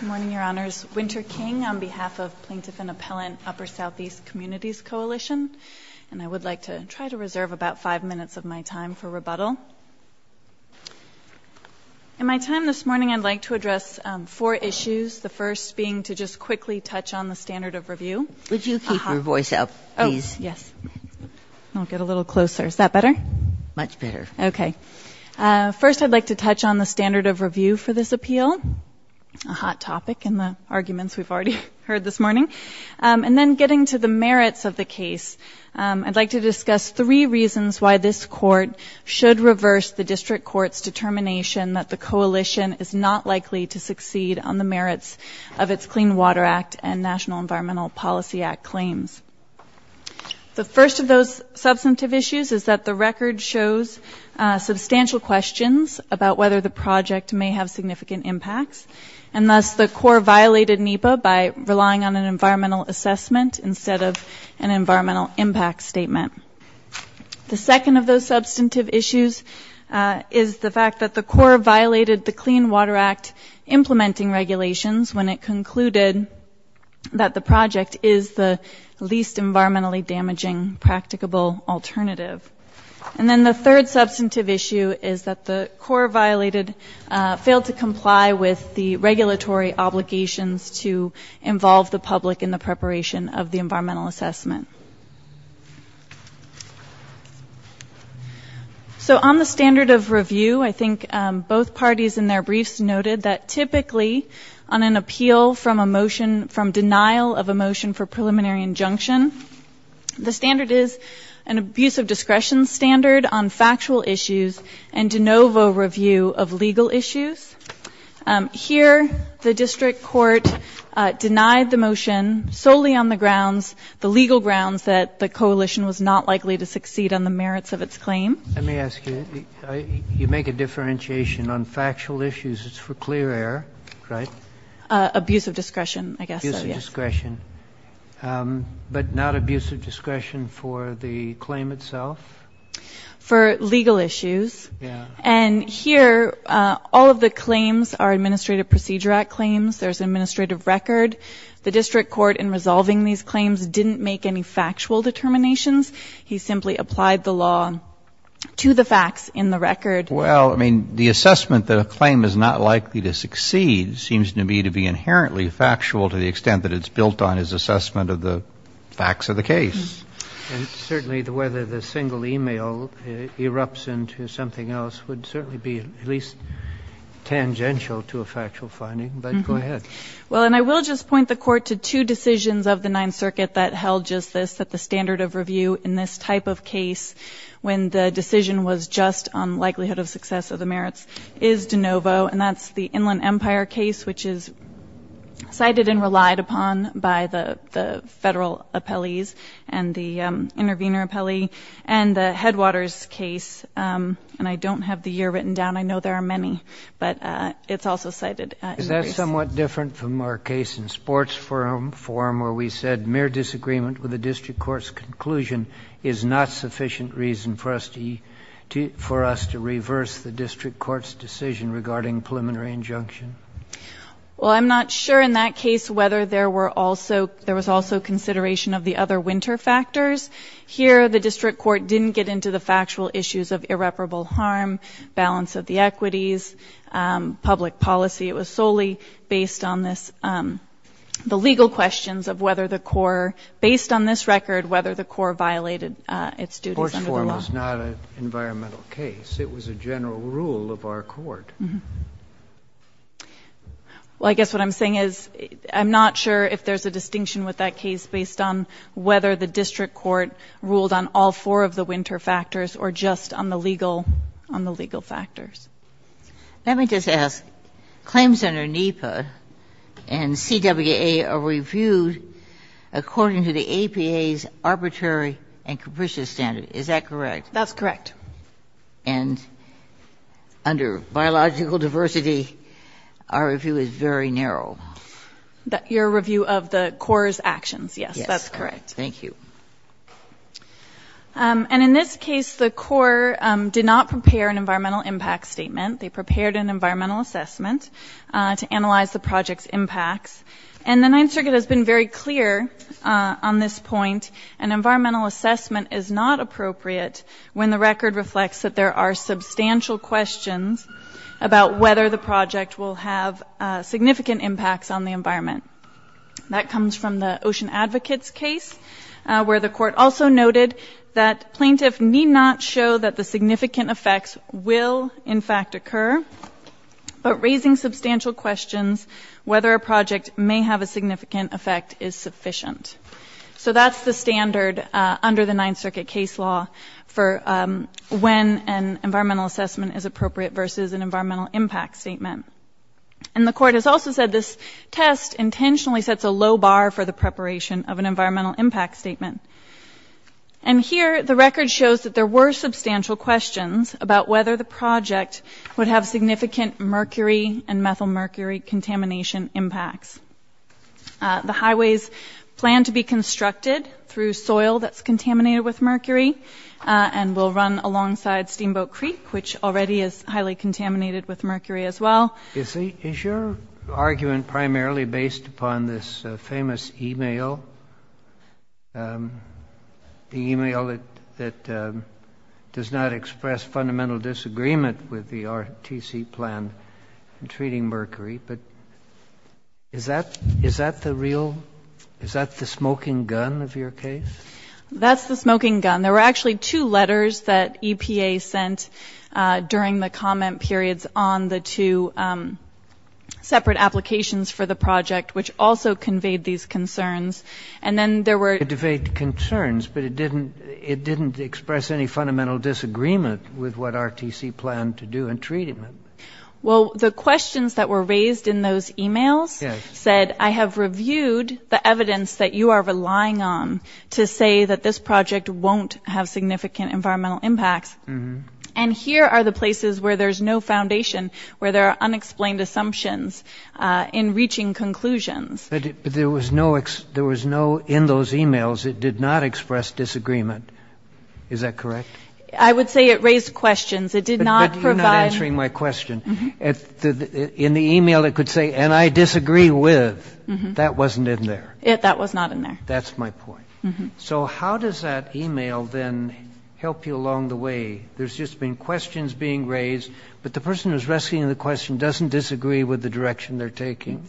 Good morning, Your Honors. Winter King on behalf of Plaintiff and Appellant Upper Southeast Communities Coalition, and I would like to try to reserve about five minutes of my time for rebuttal. In my time this morning, I'd like to address four issues, the first being to just quickly touch on the standard of review. Would you keep your voice up, please? Oh, yes. I'll get a little closer. Is that better? Much better. Okay. First, I'd like to touch on the standard of review for this appeal, a hot topic in the arguments we've already heard this morning. And then getting to the merits of the case, I'd like to discuss three reasons why this court should reverse the district court's determination that the coalition is not likely to succeed on the merits of its Clean Water Act and National Environmental Policy Act claims. The first of those substantive issues is that the record shows substantial questions about whether the project may have significant impacts, and thus the court violated NEPA by relying on an environmental assessment instead of an environmental impact statement. The second of those substantive issues is the fact that the court violated the Clean Water Act implementing regulations when it concluded that the project is the least environmentally damaging practicable alternative. And then the third substantive issue is that the court failed to comply with the regulatory obligations to involve the public in the preparation of the environmental assessment. So on the standard of review, I think both parties in their briefs noted that typically, on an appeal from a motion from denial of a motion for preliminary injunction, the standard is an abuse of discretion standard on factual issues and de novo review of legal issues. Here, the district court denied the motion solely on the grounds, the legal grounds that the coalition was not likely to succeed on the merits of its claim. Let me ask you, you make a differentiation on factual issues. It's for clear error, right? Abuse of discretion, I guess. Abuse of discretion. But not abuse of discretion for the claim itself? For legal issues. Yeah. And here, all of the claims are Administrative Procedure Act claims. There's an administrative record. The district court in resolving these claims didn't make any factual determinations. He simply applied the law to the facts in the record. Well, I mean, the assessment that a claim is not likely to succeed seems to me to be inherently factual to the extent that it's built on his assessment of the facts of the case. And certainly whether the single email erupts into something else would certainly be at least tangential to a factual finding. But go ahead. Well, and I will just point the Court to two decisions of the Ninth Circuit that held just this, that the standard of review in this type of case, when the decision was just on likelihood of success of the merits, is de novo. And that's the Inland Empire case, which is cited and relied upon by the federal appellees and the intervener appellee, and the Headwaters case. And I don't have the year written down. I know there are many. But it's also cited. Is that somewhat different from our case in sports forum where we said mere disagreement with the district court's conclusion is not sufficient reason for us to reverse the district court's decision regarding preliminary injunction? Well, I'm not sure in that case whether there were also — there was also consideration of the other winter factors. Here the district court didn't get into the factual issues of irreparable harm, balance of the equities, public policy. It was solely based on this — the legal questions of whether the court — based on this record, whether the court violated its duties under the law. Sports forum was not an environmental case. It was a general rule of our court. Well, I guess what I'm saying is I'm not sure if there's a distinction with that case based on whether the district court ruled on all four of the winter factors or just on the legal — on the legal factors. Let me just ask. Claims under NEPA and CWA are reviewed according to the APA's arbitrary and capricious standard. Is that correct? That's correct. And under biological diversity, our review is very narrow. Your review of the core's actions, yes. Yes. That's correct. Thank you. And in this case, the core did not prepare an environmental impact statement. They prepared an environmental assessment to analyze the project's impacts. And the Ninth Circuit has been very clear on this point. An environmental assessment is not appropriate when the record reflects that there are substantial questions about whether the project will have significant impacts on the environment. That comes from the Ocean Advocates case where the court also noted that plaintiffs need not show that the significant effects will, in fact, occur, but raising substantial questions whether a project may have a significant effect is sufficient. So that's the standard under the Ninth Circuit case law for when an environmental assessment is appropriate versus an environmental impact statement. And the court has also said this test intentionally sets a low bar for the preparation of an environmental impact statement. And here the record shows that there were substantial questions about whether the project would have significant mercury and methylmercury contamination impacts. The highways plan to be constructed through soil that's contaminated with mercury and will run Is your argument primarily based upon this famous e-mail, the e-mail that does not express fundamental disagreement with the RTC plan in treating mercury? But is that the real, is that the smoking gun of your case? That's the smoking gun. There were actually two letters that EPA sent during the comment periods on the two separate applications for the project, which also conveyed these concerns. And then there were Conveyed concerns, but it didn't express any fundamental disagreement with what RTC planned to do in treating it. Well, the questions that were raised in those e-mails said, I have reviewed the evidence that you are relying on to say that this project won't have significant environmental impacts. And here are the places where there's no foundation, where there are unexplained assumptions in reaching conclusions. But there was no there was no in those e-mails. It did not express disagreement. Is that correct? I would say it raised questions. It did not provide answering my question. In the e-mail, it could say, and I disagree with. That wasn't in there. That was not in there. That's my point. So how does that e-mail then help you along the way? There's just been questions being raised. But the person who's rescuing the question doesn't disagree with the direction they're taking.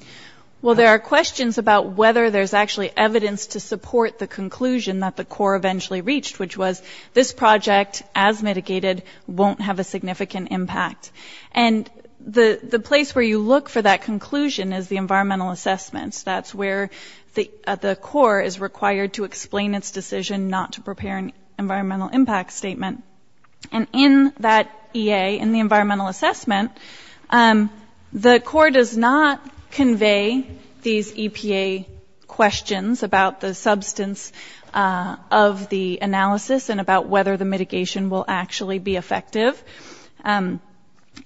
Well, there are questions about whether there's actually evidence to support the conclusion that the Corps eventually reached, which was this project, as mitigated, won't have a significant impact. And the place where you look for that conclusion is the environmental assessments. That's where the Corps is required to explain its decision not to prepare an environmental impact statement. And in that EA, in the environmental assessment, the Corps does not convey these EPA questions about the substance of the analysis and about whether the mitigation will actually be effective.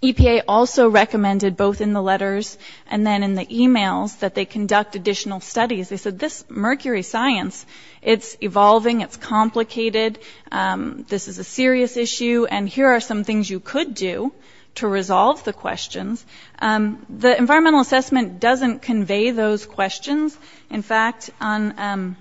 EPA also recommended both in the letters and then in the e-mails that they conduct additional studies. They said this mercury science, it's evolving, it's complicated, this is a serious issue, and here are some things you could do to resolve the questions. The environmental assessment doesn't convey those questions. In fact, on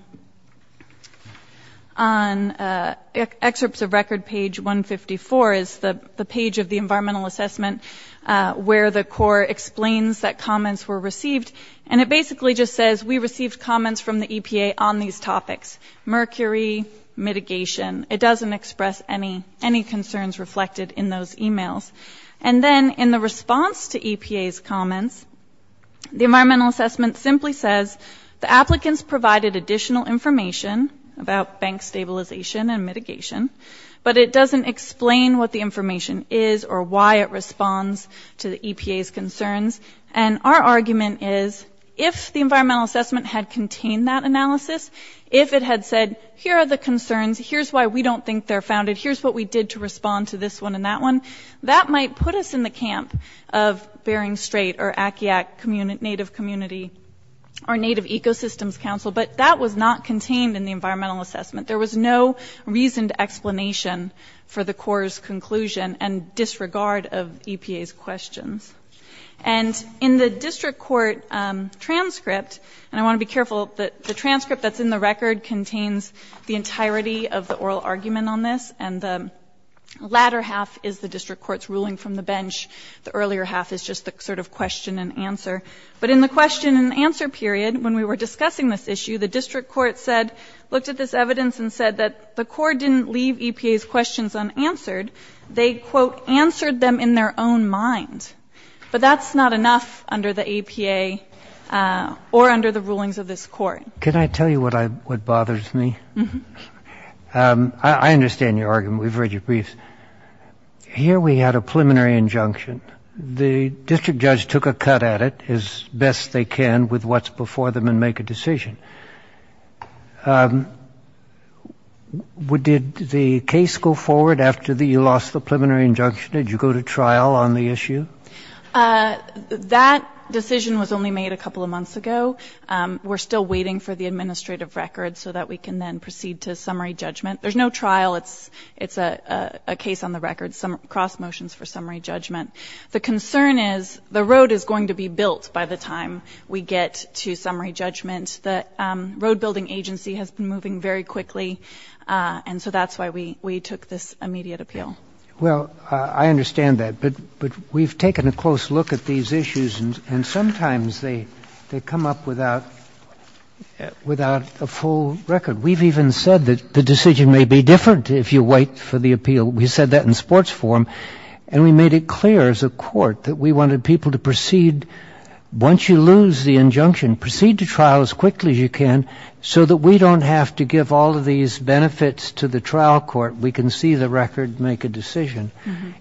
excerpts of record page 154 is the page of the environmental assessment where the Corps explains that comments were received, and it basically just says we received comments from the EPA on these topics, mercury, mitigation. It doesn't express any concerns reflected in those e-mails. And then in the response to EPA's comments, the environmental assessment simply says the applicants provided additional information about bank stabilization and mitigation, but it doesn't explain what the information is or why it responds to the EPA's concerns. And our argument is if the environmental assessment had contained that analysis, if it had said here are the concerns, here's why we don't think they're founded, here's what we did to respond to this one and that one, that might put us in the camp of Bering Strait or Akiak Native Community or Native Ecosystems Council, but that was not contained in the environmental assessment. There was no reasoned explanation for the Corps' conclusion and disregard of EPA's questions. And in the district court transcript, and I want to be careful, the transcript that's in the record contains the entirety of the oral argument on this, and the latter half is the district court's ruling from the bench. The earlier half is just the sort of question and answer. But in the question and answer period, when we were discussing this issue, the district court said, looked at this evidence and said that the Corps didn't leave EPA's questions unanswered. They, quote, answered them in their own mind. But that's not enough under the EPA or under the rulings of this court. Can I tell you what bothers me? Mm-hmm. I understand your argument. We've read your briefs. Here we had a preliminary injunction. The district judge took a cut at it as best they can with what's before them and make a decision. Did the case go forward after you lost the preliminary injunction? Did you go to trial on the issue? That decision was only made a couple of months ago. We're still waiting for the administrative record so that we can then proceed to summary judgment. There's no trial. It's a case on the record, cross motions for summary judgment. The concern is the road is going to be built by the time we get to summary judgment. The road building agency has been moving very quickly, and so that's why we took this immediate appeal. Well, I understand that. But we've taken a close look at these issues, and sometimes they come up without a full record. We've even said that the decision may be different if you wait for the appeal. We said that in sports form, and we made it clear as a court that we wanted people to proceed. Once you lose the injunction, proceed to trial as quickly as you can so that we don't have to give all of these benefits to the trial court. We can see the record, make a decision.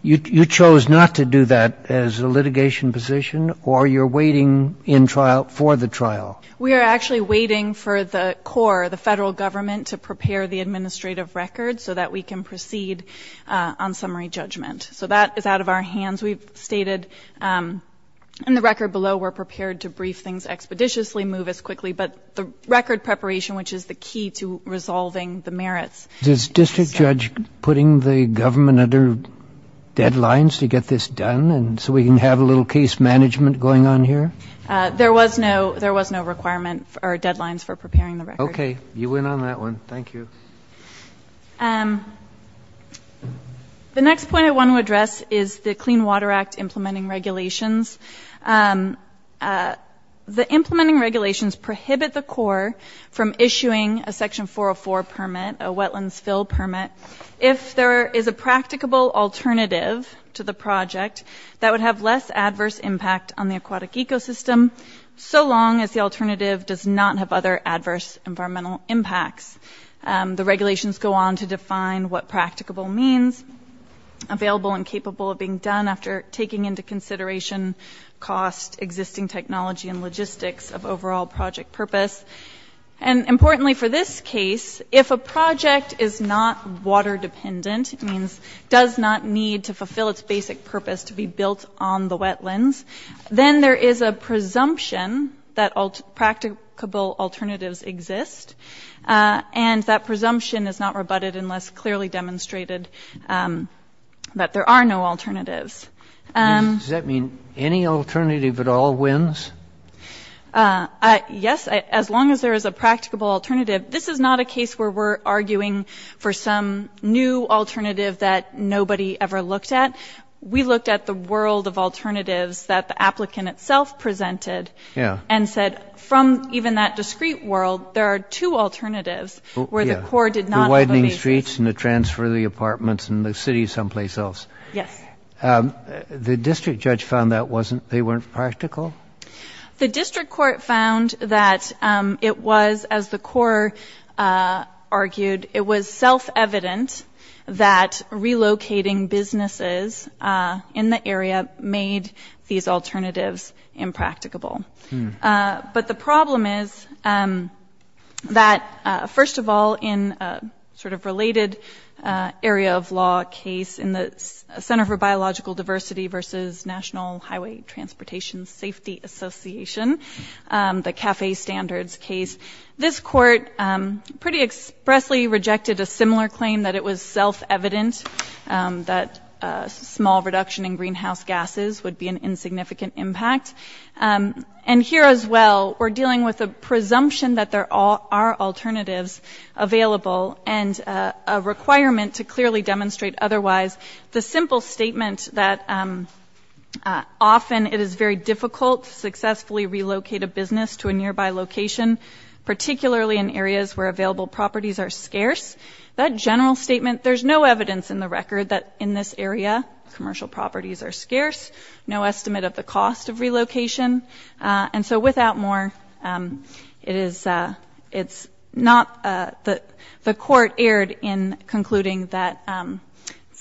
You chose not to do that as a litigation position, or you're waiting in trial for the trial? We are actually waiting for the core, the federal government, to prepare the administrative record so that we can proceed on summary judgment. So that is out of our hands. We've stated in the record below we're prepared to brief things expeditiously, move as quickly, but the record preparation, which is the key to resolving the merits. Is district judge putting the government under deadlines to get this done so we can have a little case management going on here? There was no requirement or deadlines for preparing the record. Okay. You win on that one. Thank you. The next point I want to address is the Clean Water Act implementing regulations. The implementing regulations prohibit the core from issuing a Section 404 permit, a wetlands fill permit, if there is a practicable alternative to the project that would have less adverse impact on the aquatic ecosystem, so long as the alternative does not have other adverse environmental impacts. The regulations go on to define what practicable means, available and capable of being done after taking into consideration cost, existing technology, and logistics of overall project purpose. And importantly for this case, if a project is not water dependent, means does not need to fulfill its basic purpose to be built on the wetlands, then there is a presumption that practicable alternatives exist, and that presumption is not rebutted unless clearly demonstrated that there are no alternatives. Does that mean any alternative at all wins? Yes, as long as there is a practicable alternative. This is not a case where we're arguing for some new alternative that nobody ever looked at. We looked at the world of alternatives that the applicant itself presented and said, from even that discrete world, there are two alternatives where the core did not have a basis. The widening streets and the transfer of the apartments and the city someplace else. Yes. The district judge found that they weren't practical? The district court found that it was, as the core argued, it was self-evident that relocating businesses in the area made these alternatives impracticable. But the problem is that, first of all, in sort of related area of law case, in the Center for Biological Diversity versus National Highway Transportation Safety Association, the CAFE standards case, this court pretty expressly rejected a similar claim that it was self-evident that small reduction in greenhouse gases would be an insignificant impact. And here as well, we're dealing with a presumption that there are alternatives available and a requirement to clearly demonstrate otherwise. The simple statement that often it is very difficult to successfully relocate a business to a nearby location, particularly in areas where available properties are scarce, that general statement, there's no evidence in the record that in this area commercial properties are scarce, no estimate of the cost of relocation. And so without more, the court erred in concluding that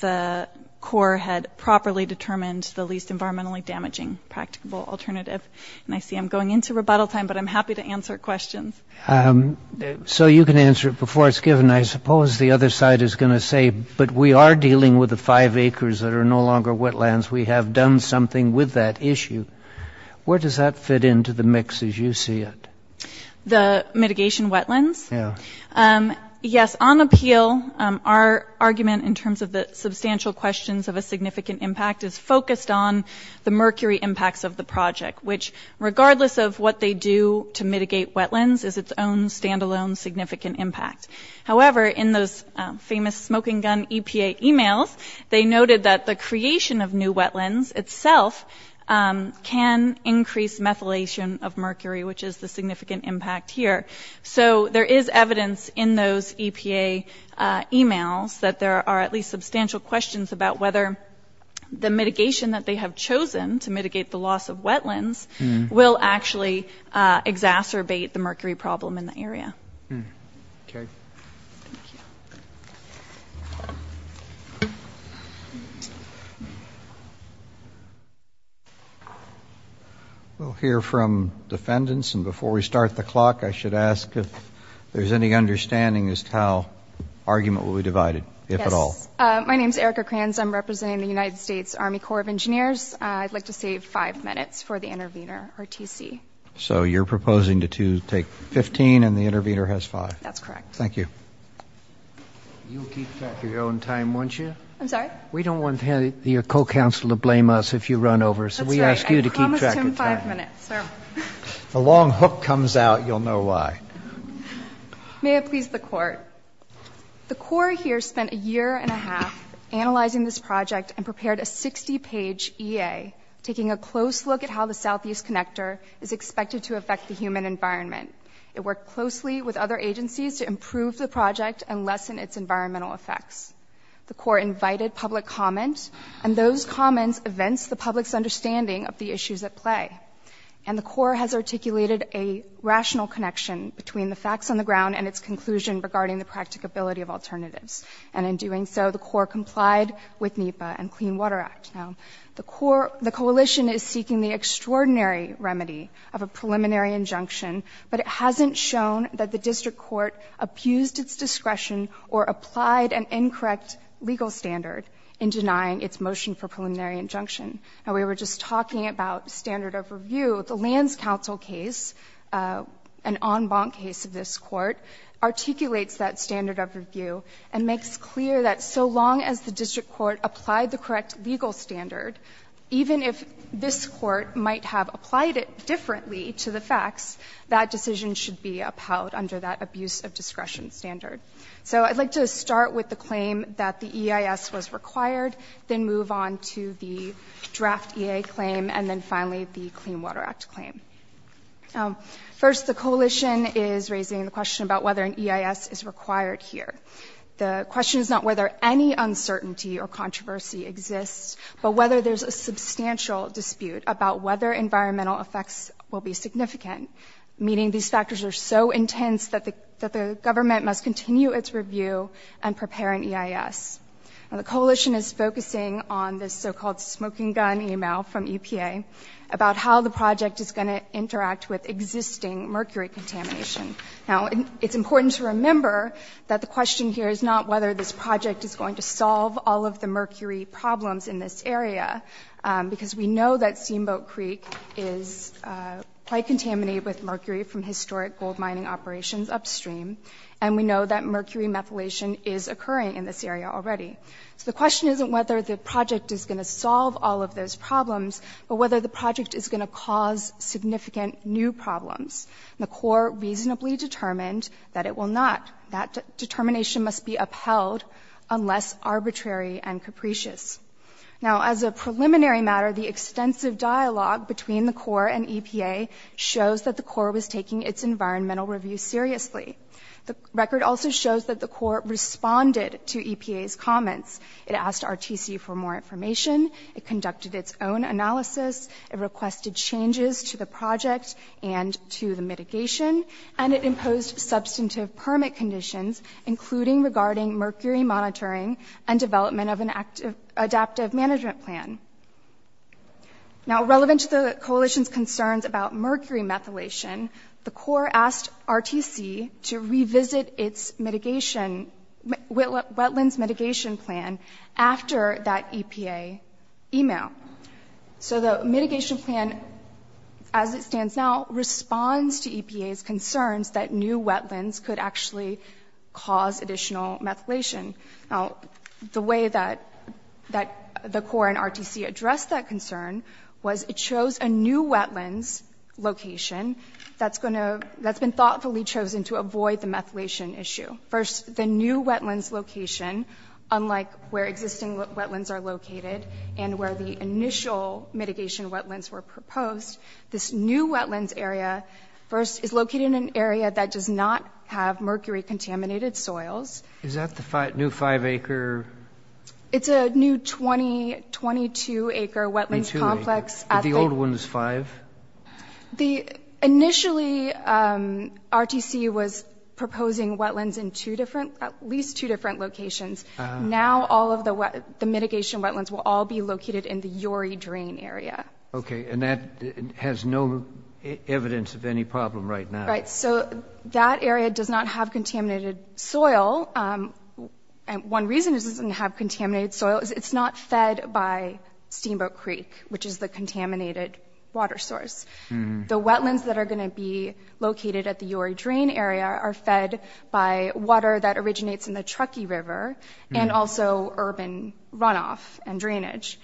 the core had properly determined the least environmentally damaging practicable alternative. And I see I'm going into rebuttal time, but I'm happy to answer questions. So you can answer it before it's given. I suppose the other side is going to say, but we are dealing with the five acres that are no longer wetlands. We have done something with that issue. Where does that fit into the mix as you see it? The mitigation wetlands? Yeah. Yes, on appeal, our argument in terms of the substantial questions of a significant impact is focused on the mercury impacts of the project, which regardless of what they do to mitigate wetlands is its own standalone significant impact. However, in those famous smoking gun EPA emails, they noted that the creation of new wetlands itself can increase methylation of mercury, which is the significant impact here. So there is evidence in those EPA emails that there are at least substantial questions about whether the mitigation that they have chosen to mitigate the loss of wetlands will actually exacerbate the mercury problem in the area. Okay. Thank you. We'll hear from defendants, and before we start the clock, I should ask if there's any understanding as to how argument will be divided, if at all. Yes. My name is Erica Kranz. I'm representing the United States Army Corps of Engineers. I'd like to save five minutes for the intervener, or TC. So you're proposing to take 15, and the intervener has five. That's correct. Thank you. You'll keep track of your own time, won't you? I'm sorry? We don't want your co-counsel to blame us if you run over, so we ask you to keep track of time. That's right. I promised him five minutes. If a long hook comes out, you'll know why. May it please the Court. The Corps here spent a year and a half analyzing this project and prepared a 60-page EA, taking a close look at how the Southeast Connector is expected to affect the human environment. It worked closely with other agencies to improve the project and lessen its environmental effects. The Corps invited public comment, and those comments evinced the public's understanding of the issues at play. And the Corps has articulated a rational connection between the facts on the ground and its conclusion regarding the practicability of alternatives. And in doing so, the Corps complied with NEPA and Clean Water Act. Now, the Coalition is seeking the extraordinary remedy of a preliminary injunction, but it hasn't shown that the district court abused its discretion or applied an incorrect legal standard in denying its motion for preliminary injunction. Now, we were just talking about standard of review. The Lands Council case, an en banc case of this Court, articulates that standard of review and makes clear that so long as the district court applied the correct legal standard, even if this Court might have applied it differently to the facts, that decision should be upheld under that abuse of discretion standard. So I'd like to start with the claim that the EIS was required, then move on to the draft EA claim, and then finally the Clean Water Act claim. First, the Coalition is raising the question about whether an EIS is required here. The question is not whether any uncertainty or controversy exists, but whether there's a substantial dispute about whether environmental effects will be significant, meaning these factors are so intense that the government must continue its review and prepare an EIS. Now, the Coalition is focusing on this so-called smoking gun email from EPA about how the project is going to interact with existing mercury contamination. Now, it's important to remember that the question here is not whether this project is going to solve all of the mercury problems in this area, because we know that Steamboat Creek is quite contaminated with mercury from historic gold mining operations upstream, and we know that mercury methylation is occurring in this area already. So the question isn't whether the project is going to solve all of those problems, but whether the project is going to cause significant new problems. And the Corps reasonably determined that it will not. That determination must be upheld unless arbitrary and capricious. Now, as a preliminary matter, the extensive dialogue between the Corps and EPA shows that the Corps was taking its environmental review seriously. The record also shows that the Corps responded to EPA's comments. It asked RTC for more information. It conducted its own analysis. It requested changes to the project and to the mitigation. And it imposed substantive permit conditions, including regarding mercury monitoring and development of an adaptive management plan. Now, relevant to the Coalition's concerns about mercury methylation, the Corps asked RTC to revisit its wetlands mitigation plan after that EPA email. So the mitigation plan, as it stands now, responds to EPA's concerns that new wetlands could actually cause additional methylation. Now, the way that the Corps and RTC addressed that concern was it chose a new wetlands location that's been thoughtfully chosen to avoid the methylation issue. First, the new wetlands location, unlike where existing wetlands are located and where the initial mitigation wetlands were proposed, this new wetlands area first is located in an area that does not have mercury-contaminated soils. Is that the new five-acre? It's a new 22-acre wetlands complex. The old one is five? Initially, RTC was proposing wetlands in at least two different locations. Now, all of the mitigation wetlands will all be located in the Uri Drain area. Okay, and that has no evidence of any problem right now. Right, so that area does not have contaminated soil. One reason it doesn't have contaminated soil is it's not fed by Steamboat Creek, which is the contaminated water source. The wetlands that are going to be located at the Uri Drain area are fed by water that originates in the Truckee River and also urban runoff and drainage.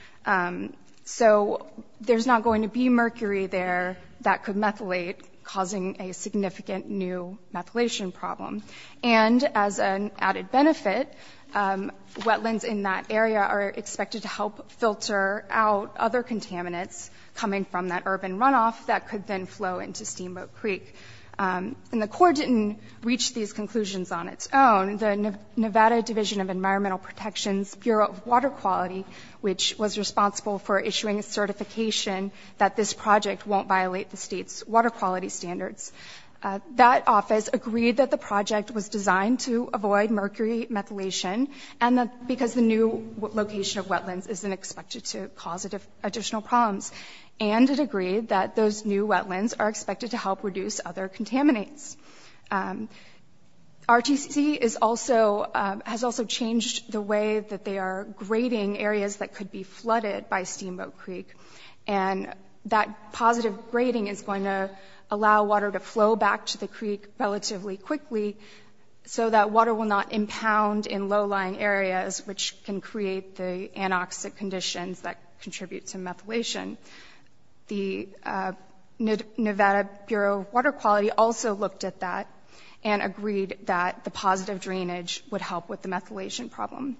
So there's not going to be mercury there that could methylate, causing a significant new methylation problem. And as an added benefit, wetlands in that area are expected to help filter out other contaminants coming from that urban runoff that could then flow into Steamboat Creek. And the Corps didn't reach these conclusions on its own. The Nevada Division of Environmental Protection's Bureau of Water Quality, which was responsible for issuing a certification that this project won't violate the state's water quality standards, that office agreed that the project was designed to avoid mercury methylation because the new location of wetlands isn't expected to cause additional problems. And it agreed that those new wetlands are expected to help reduce other contaminants. RTC has also changed the way that they are grading areas that could be flooded by Steamboat Creek. And that positive grading is going to allow water to flow back to the creek relatively quickly so that water will not impound in low-lying areas, which can create the anoxic conditions that contribute to methylation. The Nevada Bureau of Water Quality also looked at that and agreed that the positive drainage would help with the methylation problem.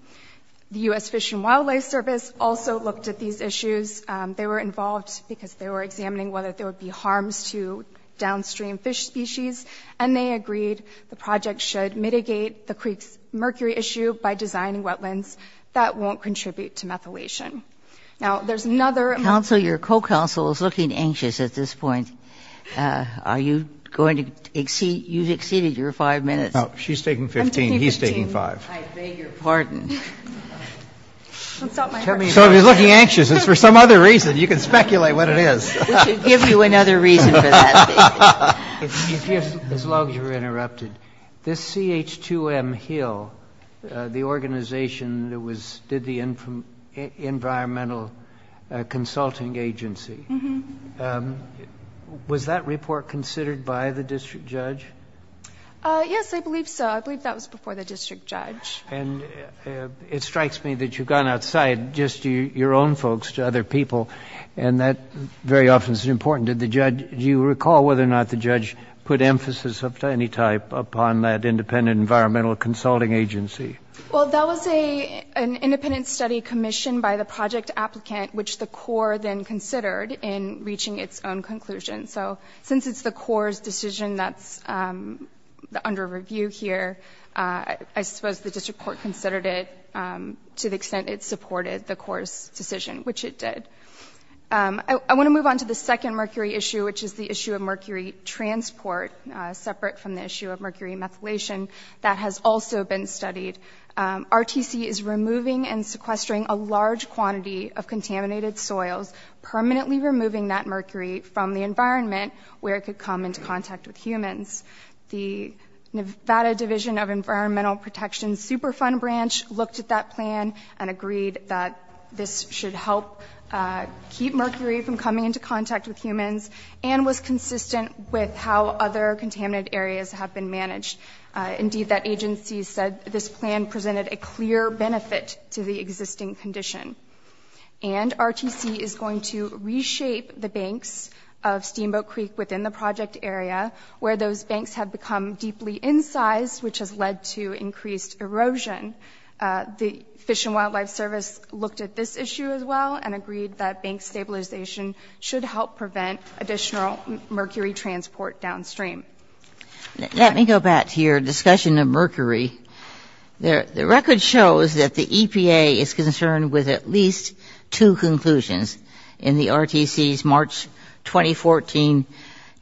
The U.S. Fish and Wildlife Service also looked at these issues. They were involved because they were examining whether there would be harms to downstream fish species, and they agreed the project should mitigate the creek's mercury issue by designing wetlands that won't contribute to methylation. Now, there's another – Counsel, your co-counsel is looking anxious at this point. Are you going to exceed – you've exceeded your five minutes. No. She's taking 15. He's taking five. I'm taking 15. I beg your pardon. So if he's looking anxious, it's for some other reason. You can speculate what it is. We should give you another reason for that, David. As long as you're interrupted, this CH2M Hill, the organization that did the Environmental Consulting Agency, was that report considered by the district judge? Yes, I believe so. I believe that was before the district judge. And it strikes me that you've gone outside just to your own folks, to other people, and that very often is important to the judge. Do you recall whether or not the judge put emphasis of any type upon that independent Environmental Consulting Agency? Well, that was an independent study commissioned by the project applicant, which the Corps then considered in reaching its own conclusion. So since it's the Corps' decision that's under review here, I suppose the district court considered it to the extent it supported the Corps' decision, which it did. I want to move on to the second mercury issue, which is the issue of mercury transport, separate from the issue of mercury methylation. That has also been studied. RTC is removing and sequestering a large quantity of contaminated soils, permanently removing that mercury from the environment where it could come into contact with humans. The Nevada Division of Environmental Protection Superfund Branch looked at that plan and agreed that this should help keep mercury from coming into contact with humans and was consistent with how other contaminated areas have been managed. Indeed, that agency said this plan presented a clear benefit to the existing condition. And RTC is going to reshape the banks of Steamboat Creek within the project area, where those banks have become deeply incised, which has led to increased erosion. The Fish and Wildlife Service looked at this issue as well and agreed that bank stabilization should help prevent additional mercury transport downstream. Let me go back to your discussion of mercury. The record shows that the EPA is concerned with at least two conclusions in the RTC's March 2014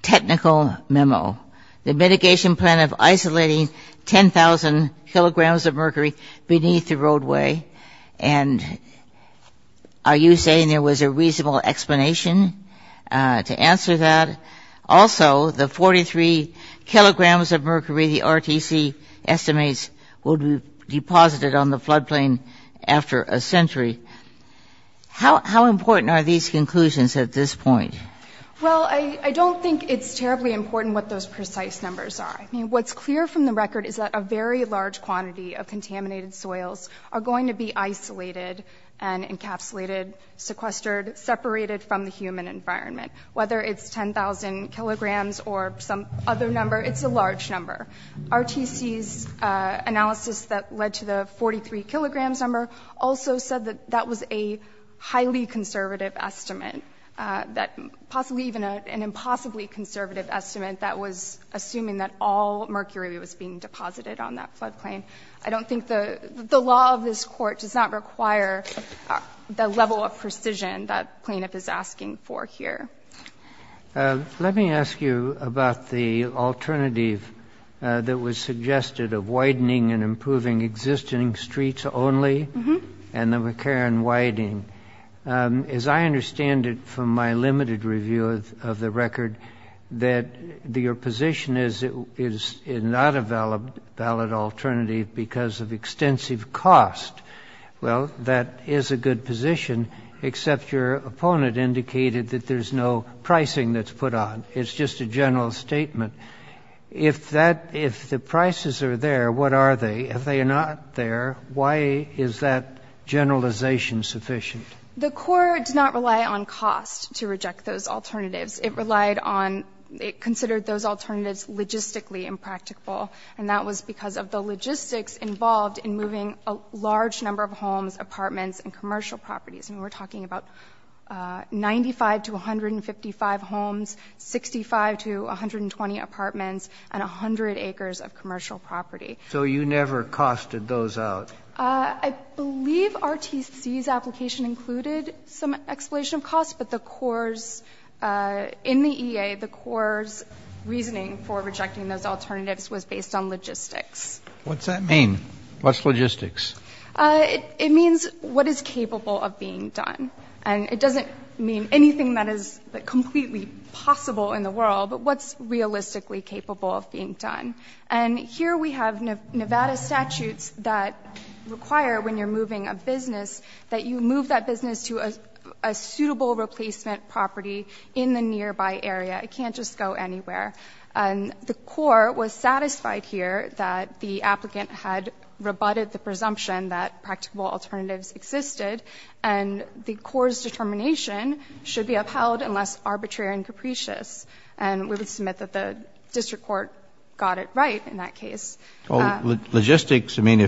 technical memo. The mitigation plan of isolating 10,000 kilograms of mercury beneath the roadway. And are you saying there was a reasonable explanation to answer that? Also, the 43 kilograms of mercury the RTC estimates will be deposited on the floodplain after a century. How important are these conclusions at this point? Well, I don't think it's terribly important what those precise numbers are. I mean, what's clear from the record is that a very large quantity of contaminated soils are going to be isolated and encapsulated, sequestered, separated from the human environment. Whether it's 10,000 kilograms or some other number, it's a large number. RTC's analysis that led to the 43 kilograms number also said that that was a highly conservative estimate, possibly even an impossibly conservative estimate that was assuming that all mercury was being deposited on that floodplain. I don't think the law of this Court does not require the level of precision that plaintiff is asking for here. Let me ask you about the alternative that was suggested of widening and improving existing streets only and the McCarran widening. As I understand it from my limited review of the record, that your position is it's not a valid alternative because of extensive cost. Well, that is a good position, except your opponent indicated that there's no pricing that's put on. It's just a general statement. If the prices are there, what are they? If they are not there, why is that generalization sufficient? The Court did not rely on cost to reject those alternatives. It relied on ñ it considered those alternatives logistically impracticable, and that was because of the logistics involved in moving a large number of homes, apartments, and commercial properties. I mean, we're talking about 95 to 155 homes, 65 to 120 apartments, and 100 acres of commercial property. So you never costed those out? I believe RTC's application included some explanation of cost, but the courts in the EA, the courts' reasoning for rejecting those alternatives was based on logistics. What's that mean? What's logistics? It means what is capable of being done. And it doesn't mean anything that is completely possible in the world, but what's realistically capable of being done. And here we have Nevada statutes that require when you're moving a business that you move that business to a suitable replacement property in the nearby area. It can't just go anywhere. And the court was satisfied here that the applicant had rebutted the presumption that practical alternatives existed, and the court's determination should be upheld unless arbitrary and capricious. And we would submit that the district court got it right in that case. Well, logistics, I mean,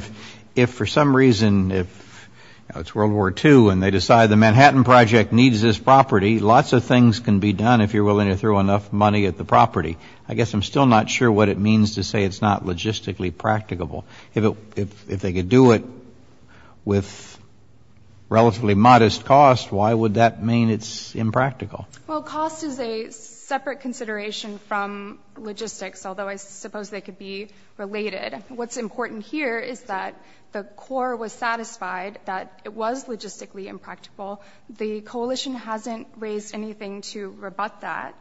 if for some reason, if it's World War II and they decide the Manhattan Project needs this property, lots of things can be done if you're willing to throw enough money at the property. I guess I'm still not sure what it means to say it's not logistically practicable. If they could do it with relatively modest cost, why would that mean it's impractical? Well, cost is a separate consideration from logistics, although I suppose they could be related. What's important here is that the court was satisfied that it was logistically impractical. The coalition hasn't raised anything to rebut that.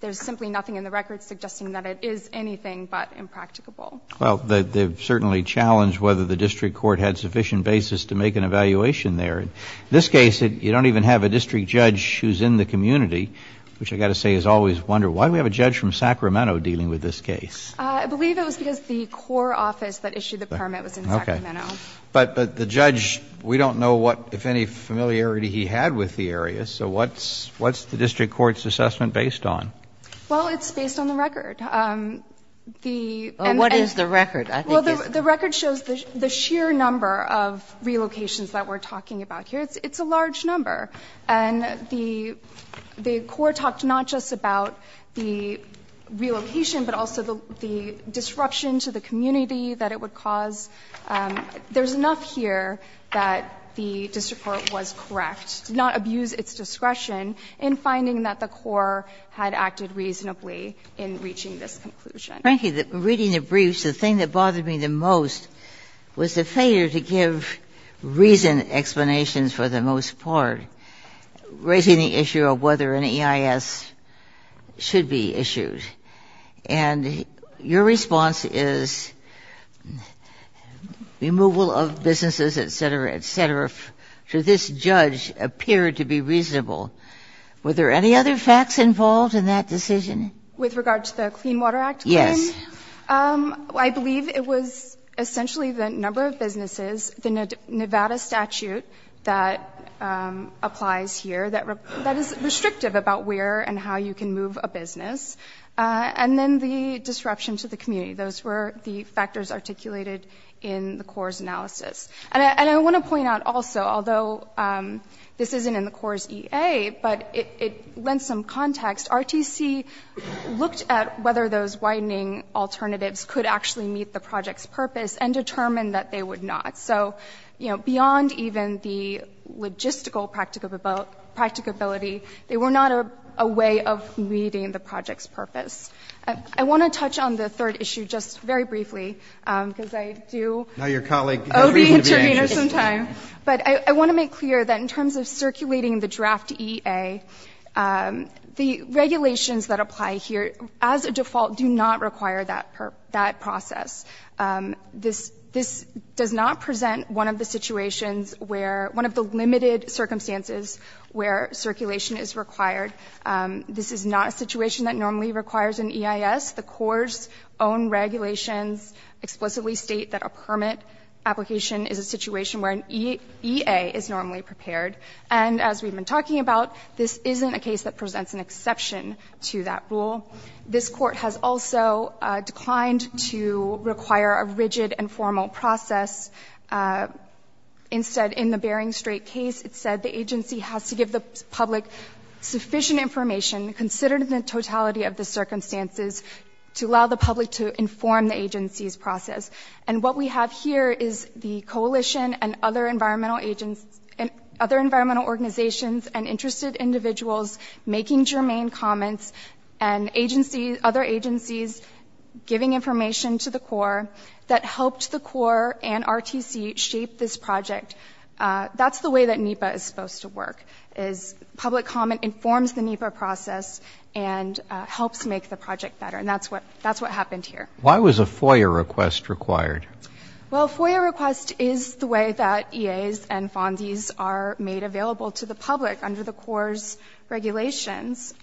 There's simply nothing in the record suggesting that it is anything but impracticable. Well, they've certainly challenged whether the district court had sufficient basis to make an evaluation there. In this case, you don't even have a district judge who's in the community, which I've got to say is always a wonder. Why do we have a judge from Sacramento dealing with this case? I believe it was because the core office that issued the permit was in Sacramento. Okay. But the judge, we don't know what, if any, familiarity he had with the area. So what's the district court's assessment based on? Well, it's based on the record. The and the. Well, what is the record? I think it's. Well, the record shows the sheer number of relocations that we're talking about here. It's a large number. And the court talked not just about the relocation, but also the disruption to the community that it would cause. There's enough here that the district court was correct, did not abuse its discretion in finding that the core had acted reasonably in reaching this conclusion. Frankly, reading the briefs, the thing that bothered me the most was the failure to give reasoned explanations for the most part, raising the issue of whether an EIS should be issued. And your response is removal of businesses, et cetera, et cetera, to this judge appeared to be reasonable. Were there any other facts involved in that decision? With regard to the Clean Water Act? Yes. I believe it was essentially the number of businesses, the Nevada statute that applies here, that is restrictive about where and how you can move a business. And then the disruption to the community. Those were the factors articulated in the CORE's analysis. And I want to point out also, although this isn't in the CORE's EA, but it lends some context. RTC looked at whether those widening alternatives could actually meet the project's purpose and determined that they would not. So, you know, beyond even the logistical practicability, they were not a way of meeting the project's purpose. I want to touch on the third issue just very briefly because I do owe the intervener some time. But I want to make clear that in terms of circulating the draft EA, the regulations that apply here as a default do not require that process. This does not present one of the situations where one of the limited circumstances where circulation is required. This is not a situation that normally requires an EIS. The CORE's own regulations explicitly state that a permit application is a situation where an EA is normally prepared. And as we've been talking about, this isn't a case that presents an exception to that rule. This Court has also declined to require a rigid and formal process. Instead, in the Bering Strait case, it said the agency has to give the public sufficient information, considered the totality of the circumstances, to allow the public to inform the agency's process. And what we have here is the coalition and other environmental organizations and interested individuals making germane comments and other agencies giving information to the CORE that helped the CORE and RTC shape this project. That's the way that NEPA is supposed to work, is public comment informs the NEPA process and helps make the project better. And that's what happened here. Why was a FOIA request required? Well, a FOIA request is the way that EAs and FONDIs are made available to the public under the CORE's regulations.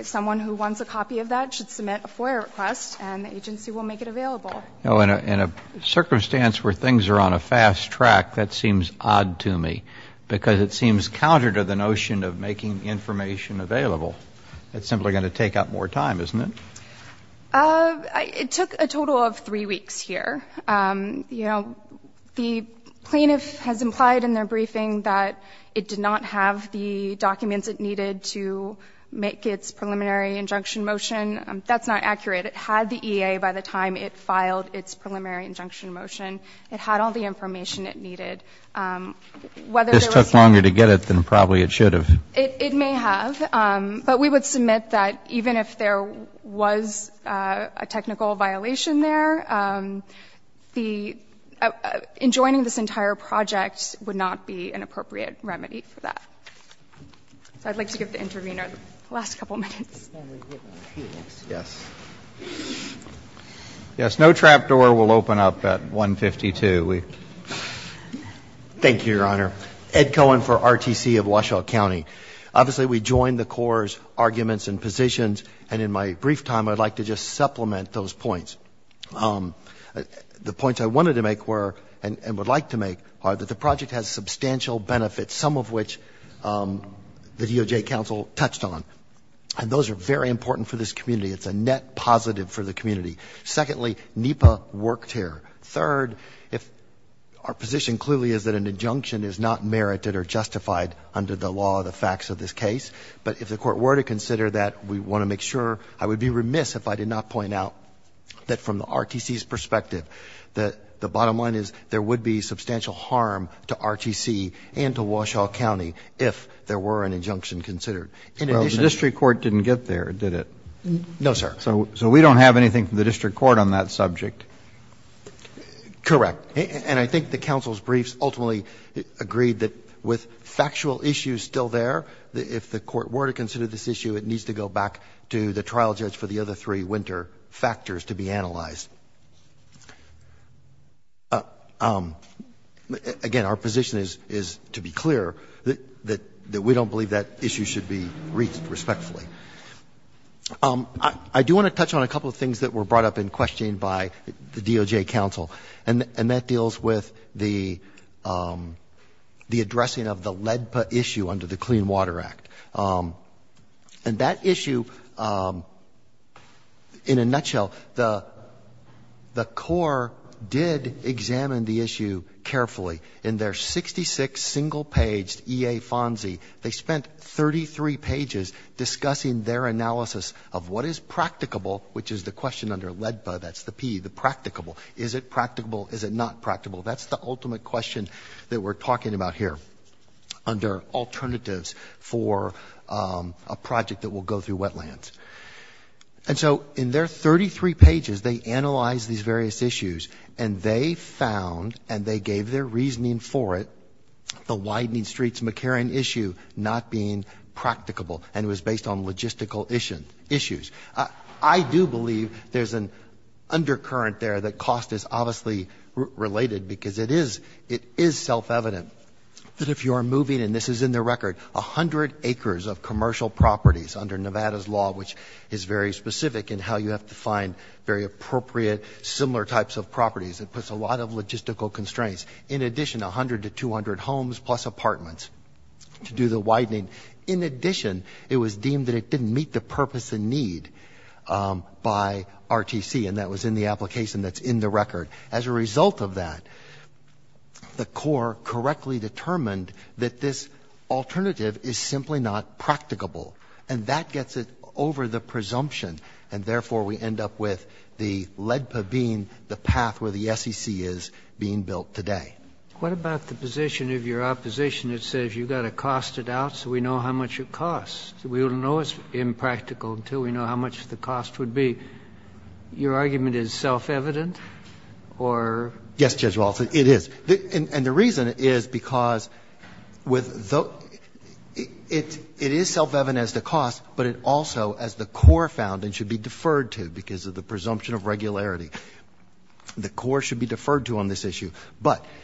Someone who wants a copy of that should submit a FOIA request and the agency will make it available. In a circumstance where things are on a fast track, that seems odd to me because it seems counter to the notion of making information available. It's simply going to take up more time, isn't it? It took a total of three weeks here. You know, the plaintiff has implied in their briefing that it did not have the documents it needed to make its preliminary injunction motion. That's not accurate. It had the EA by the time it filed its preliminary injunction motion. It had all the information it needed. This took longer to get it than probably it should have. It may have. But we would submit that even if there was a technical violation there, the — enjoining this entire project would not be an appropriate remedy for that. So I'd like to give the intervener the last couple of minutes. Yes. Yes. No trapdoor will open up at 152. Thank you, Your Honor. Ed Cohen for RTC of Washoe County. Obviously, we join the CORE's arguments and positions, and in my brief time, I'd like to just supplement those points. The points I wanted to make were and would like to make are that the project has substantial benefits, some of which the DOJ counsel touched on, and those are very important for this community. It's a net positive for the community. Secondly, NEPA worked here. Third, if our position clearly is that an injunction is not merited or justified under the law, the facts of this case, but if the Court were to consider that, we want to make sure — I would be remiss if I did not point out that from the RTC's perspective, that the bottom line is there would be substantial harm to RTC and to Washoe County if there were an injunction considered. In addition to that — Well, the district court didn't get there, did it? No, sir. So we don't have anything from the district court on that subject? Correct. And I think the counsel's briefs ultimately agreed that with factual issues still there, if the Court were to consider this issue, it needs to go back to the trial judge for the other three winter factors to be analyzed. Again, our position is to be clear that we don't believe that issue should be raised respectfully. I do want to touch on a couple of things that were brought up in questioning by the DOJ counsel, and that deals with the addressing of the LEDPA issue under the Clean Water Act. And that issue, in a nutshell, the Corps did examine the issue carefully. In their 66-single-paged EA FONSI, they spent 33 pages discussing their analysis of what is practicable, which is the question under LEDPA, that's the P, the practicable. Is it practicable? Is it not practicable? That's the ultimate question that we're talking about here under alternatives for a project that will go through wetlands. And so in their 33 pages, they analyzed these various issues, and they found, and they gave their reasoning for it, the Widening Streets McCarran issue not being practicable, and it was based on logistical issues. I do believe there's an undercurrent there that cost is obviously related, because it is self-evident that if you are moving, and this is in the record, 100 acres of commercial properties under Nevada's law, which is very specific in how you have to find very appropriate similar types of properties, it puts a lot of logistical constraints. In addition, 100 to 200 homes plus apartments to do the widening. In addition, it was deemed that it didn't meet the purpose and need by RTC, and that was in the application that's in the record. As a result of that, the court correctly determined that this alternative is simply not practicable, and that gets it over the presumption, and therefore, we end up with the LEDPA being the path where the SEC is being built today. What about the position of your opposition that says you've got to cost it out so we know how much it costs? We don't know it's impractical until we know how much the cost would be. Your argument is self-evident or? Yes, Judge Walters, it is. And the reason is because with the – it is self-evident as the cost, but it also as the core found and should be deferred to because of the presumption of regularity. The core should be deferred to on this issue. But –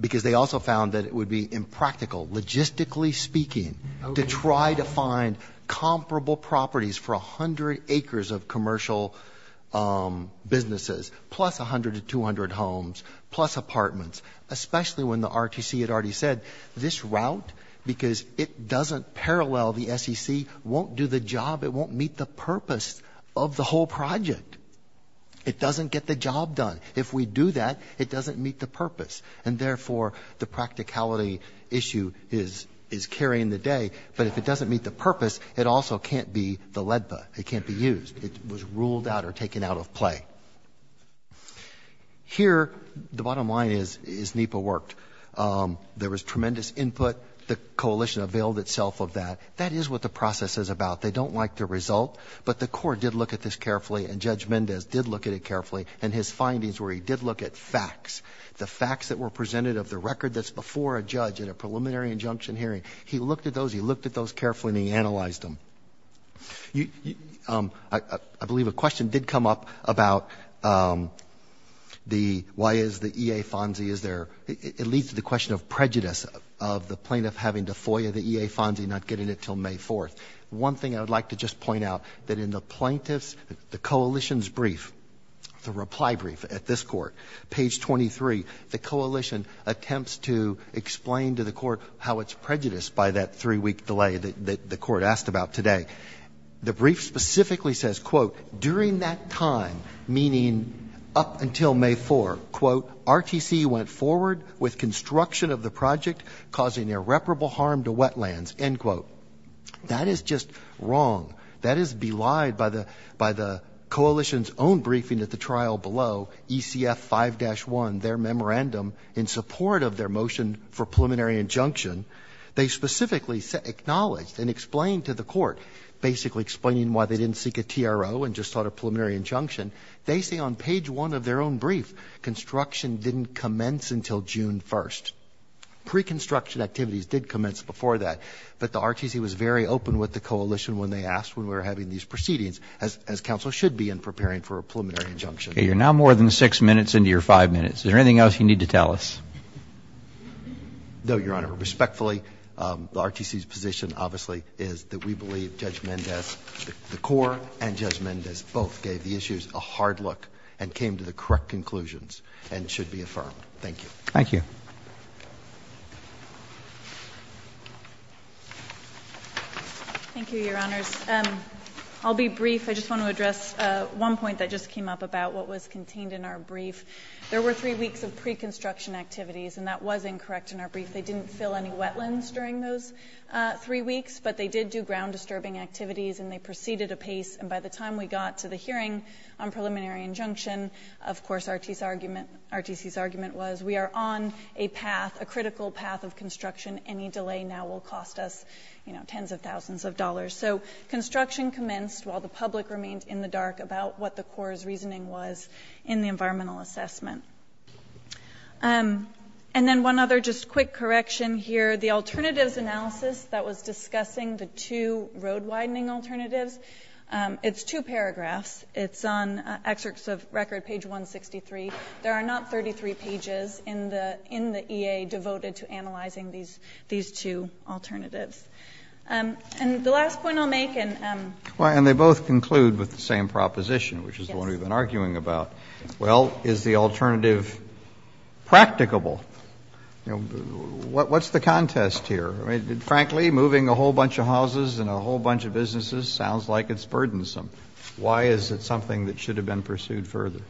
because they also found that it would be impractical, logistically speaking, to try to find comparable properties for 100 acres of commercial businesses, plus 100 to 200 homes, plus apartments, especially when the RTC had already said, this route, because it doesn't parallel the SEC, won't do the job, it won't meet the purpose of the whole project. It doesn't get the job done. If we do that, it doesn't meet the purpose. And therefore, the practicality issue is carrying the day. But if it doesn't meet the purpose, it also can't be the LEDPA. It can't be used. It was ruled out or taken out of play. Here, the bottom line is NEPA worked. There was tremendous input. The coalition availed itself of that. That is what the process is about. They don't like the result, but the core did look at this carefully, and Judge where he did look at facts, the facts that were presented of the record that's before a judge in a preliminary injunction hearing. He looked at those. He looked at those carefully, and he analyzed them. I believe a question did come up about why is the EA FONSI, it leads to the question of prejudice of the plaintiff having to FOIA the EA FONSI and not getting it until May 4th. One thing I would like to just point out, that in the plaintiff's, the coalition's brief, the reply brief at this court, page 23, the coalition attempts to explain to the court how it's prejudiced by that three-week delay that the court asked about today. The brief specifically says, quote, during that time, meaning up until May 4th, quote, RTC went forward with construction of the project causing irreparable harm to wetlands, end quote. That is just wrong. That is belied by the coalition's own briefing at the trial below, ECF 5-1, their memorandum in support of their motion for preliminary injunction. They specifically acknowledged and explained to the court, basically explaining why they didn't seek a TRO and just sought a preliminary injunction. They say on page one of their own brief, construction didn't commence until June 1st. Pre-construction activities did commence before that, but the RTC was very open with the coalition when they asked when we were having these proceedings as counsel should be in preparing for a preliminary injunction. Okay, you're now more than six minutes into your five minutes. Is there anything else you need to tell us? No, Your Honor. Respectfully, the RTC's position, obviously, is that we believe Judge Mendez, the court, and Judge Mendez both gave the issues a hard look and came to the correct conclusions and should be affirmed. Thank you. Thank you. Thank you, Your Honors. I'll be brief. I just want to address one point that just came up about what was contained in our brief. There were three weeks of pre-construction activities, and that was incorrect in our brief. They didn't fill any wetlands during those three weeks, but they did do ground-disturbing activities and they proceeded apace. And by the time we got to the hearing on preliminary injunction, of course, RTC's argument was we are on a path, a critical path of construction. Any delay now will cost us tens of thousands of dollars. So construction commenced while the public remained in the dark about what the court's reasoning was in the environmental assessment. And then one other just quick correction here. The alternatives analysis that was discussing the two road-widening alternatives, it's two paragraphs. It's on Excerpts of Record, page 163. There are not 33 pages in the EA devoted to analyzing these two alternatives. And the last point I'll make and... And they both conclude with the same proposition, which is the one we've been arguing about. Well, is the alternative practicable? What's the contest here? Frankly, moving a whole bunch of houses and a whole bunch of businesses sounds like it's burdensome. Why is it something that should have been pursued further?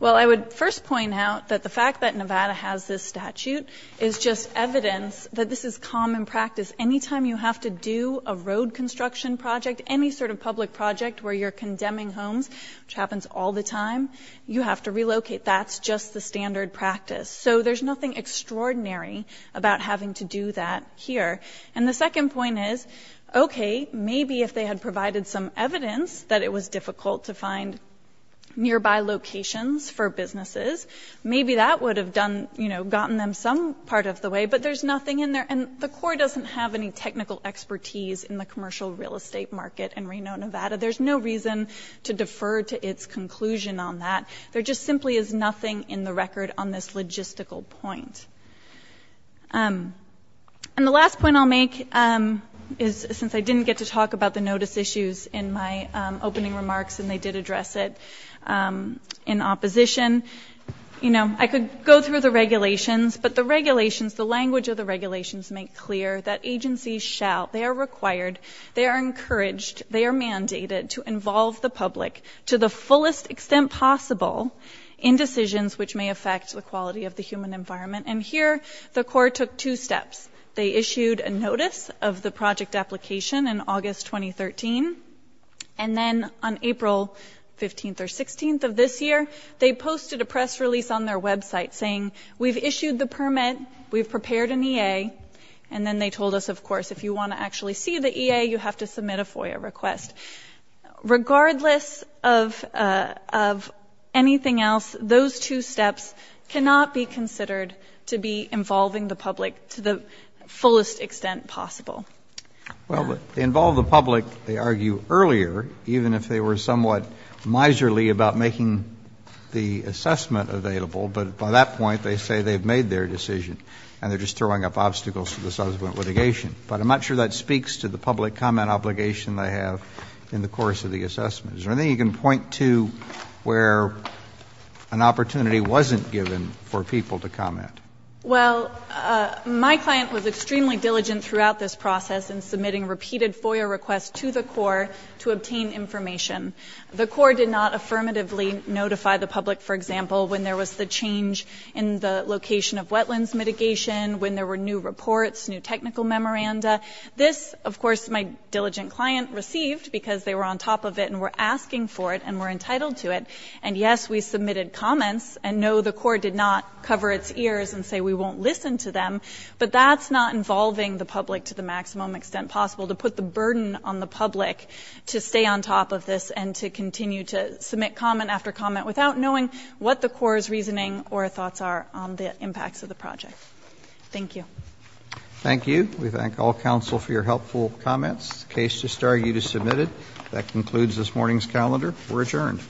Well, I would first point out that the fact that Nevada has this statute is just evidence that this is common practice. Anytime you have to do a road construction project, any sort of public project where you're condemning homes, which happens all the time, you have to relocate. That's just the standard practice. So there's nothing extraordinary about having to do that here. And the second point is, OK, maybe if they had provided some evidence that it was difficult to find nearby locations for businesses, maybe that would have gotten them some part of the way, but there's nothing in there. And the court doesn't have any technical expertise in the commercial real estate market in Reno, Nevada. There's no reason to defer to its conclusion on that. There just simply is nothing in the record on this logistical point. And the last point I'll make is since I didn't get to talk about the notice issues in my opening remarks, and they did address it in opposition, you know, I could go through the regulations, but the regulations, the language of the regulations, make clear that agencies shall, they are required, they are encouraged, they are mandated to involve the public to the fullest extent possible in decisions which may affect the quality of the human environment. And here, the court took two steps. They issued a notice of the project application in August 2013, and then on April 15th or 16th of this year, they posted a press release on their website saying, we've issued the permit, we've prepared an EA, and then they told us, of course, if you want to actually see the EA, you have to submit a FOIA request. Regardless of anything else, those two steps cannot be considered to be involving the public to the fullest extent possible. Well, involve the public, they argue, earlier, even if they were somewhat miserly about making the assessment available, but by that point, they say they've made their decision and they're just throwing up obstacles to the subsequent litigation. But I'm not sure that speaks to the public comment obligation they have in the course of the assessment. Is there anything you can point to where an opportunity wasn't given for people to comment? Well, my client was extremely diligent throughout this process in submitting repeated FOIA requests to the Corps to obtain information. The Corps did not affirmatively notify the public, for example, when there was the change in the location of wetlands mitigation, when there were new reports, new technical memoranda. This, of course, my diligent client received because they were on top of it and were asking for it and were entitled to it. And yes, we submitted comments and no, the Corps did not cover its ears and say we won't listen to them, but that's not involving the public to the maximum extent possible to put the burden on the public to stay on top of this and to continue to submit comment after comment without knowing what the Corps' reasoning or thoughts are on the impacts of the project. Thank you. Thank you. We thank all counsel for your helpful comments. The case just argued is submitted. That concludes this morning's calendar. We're adjourned.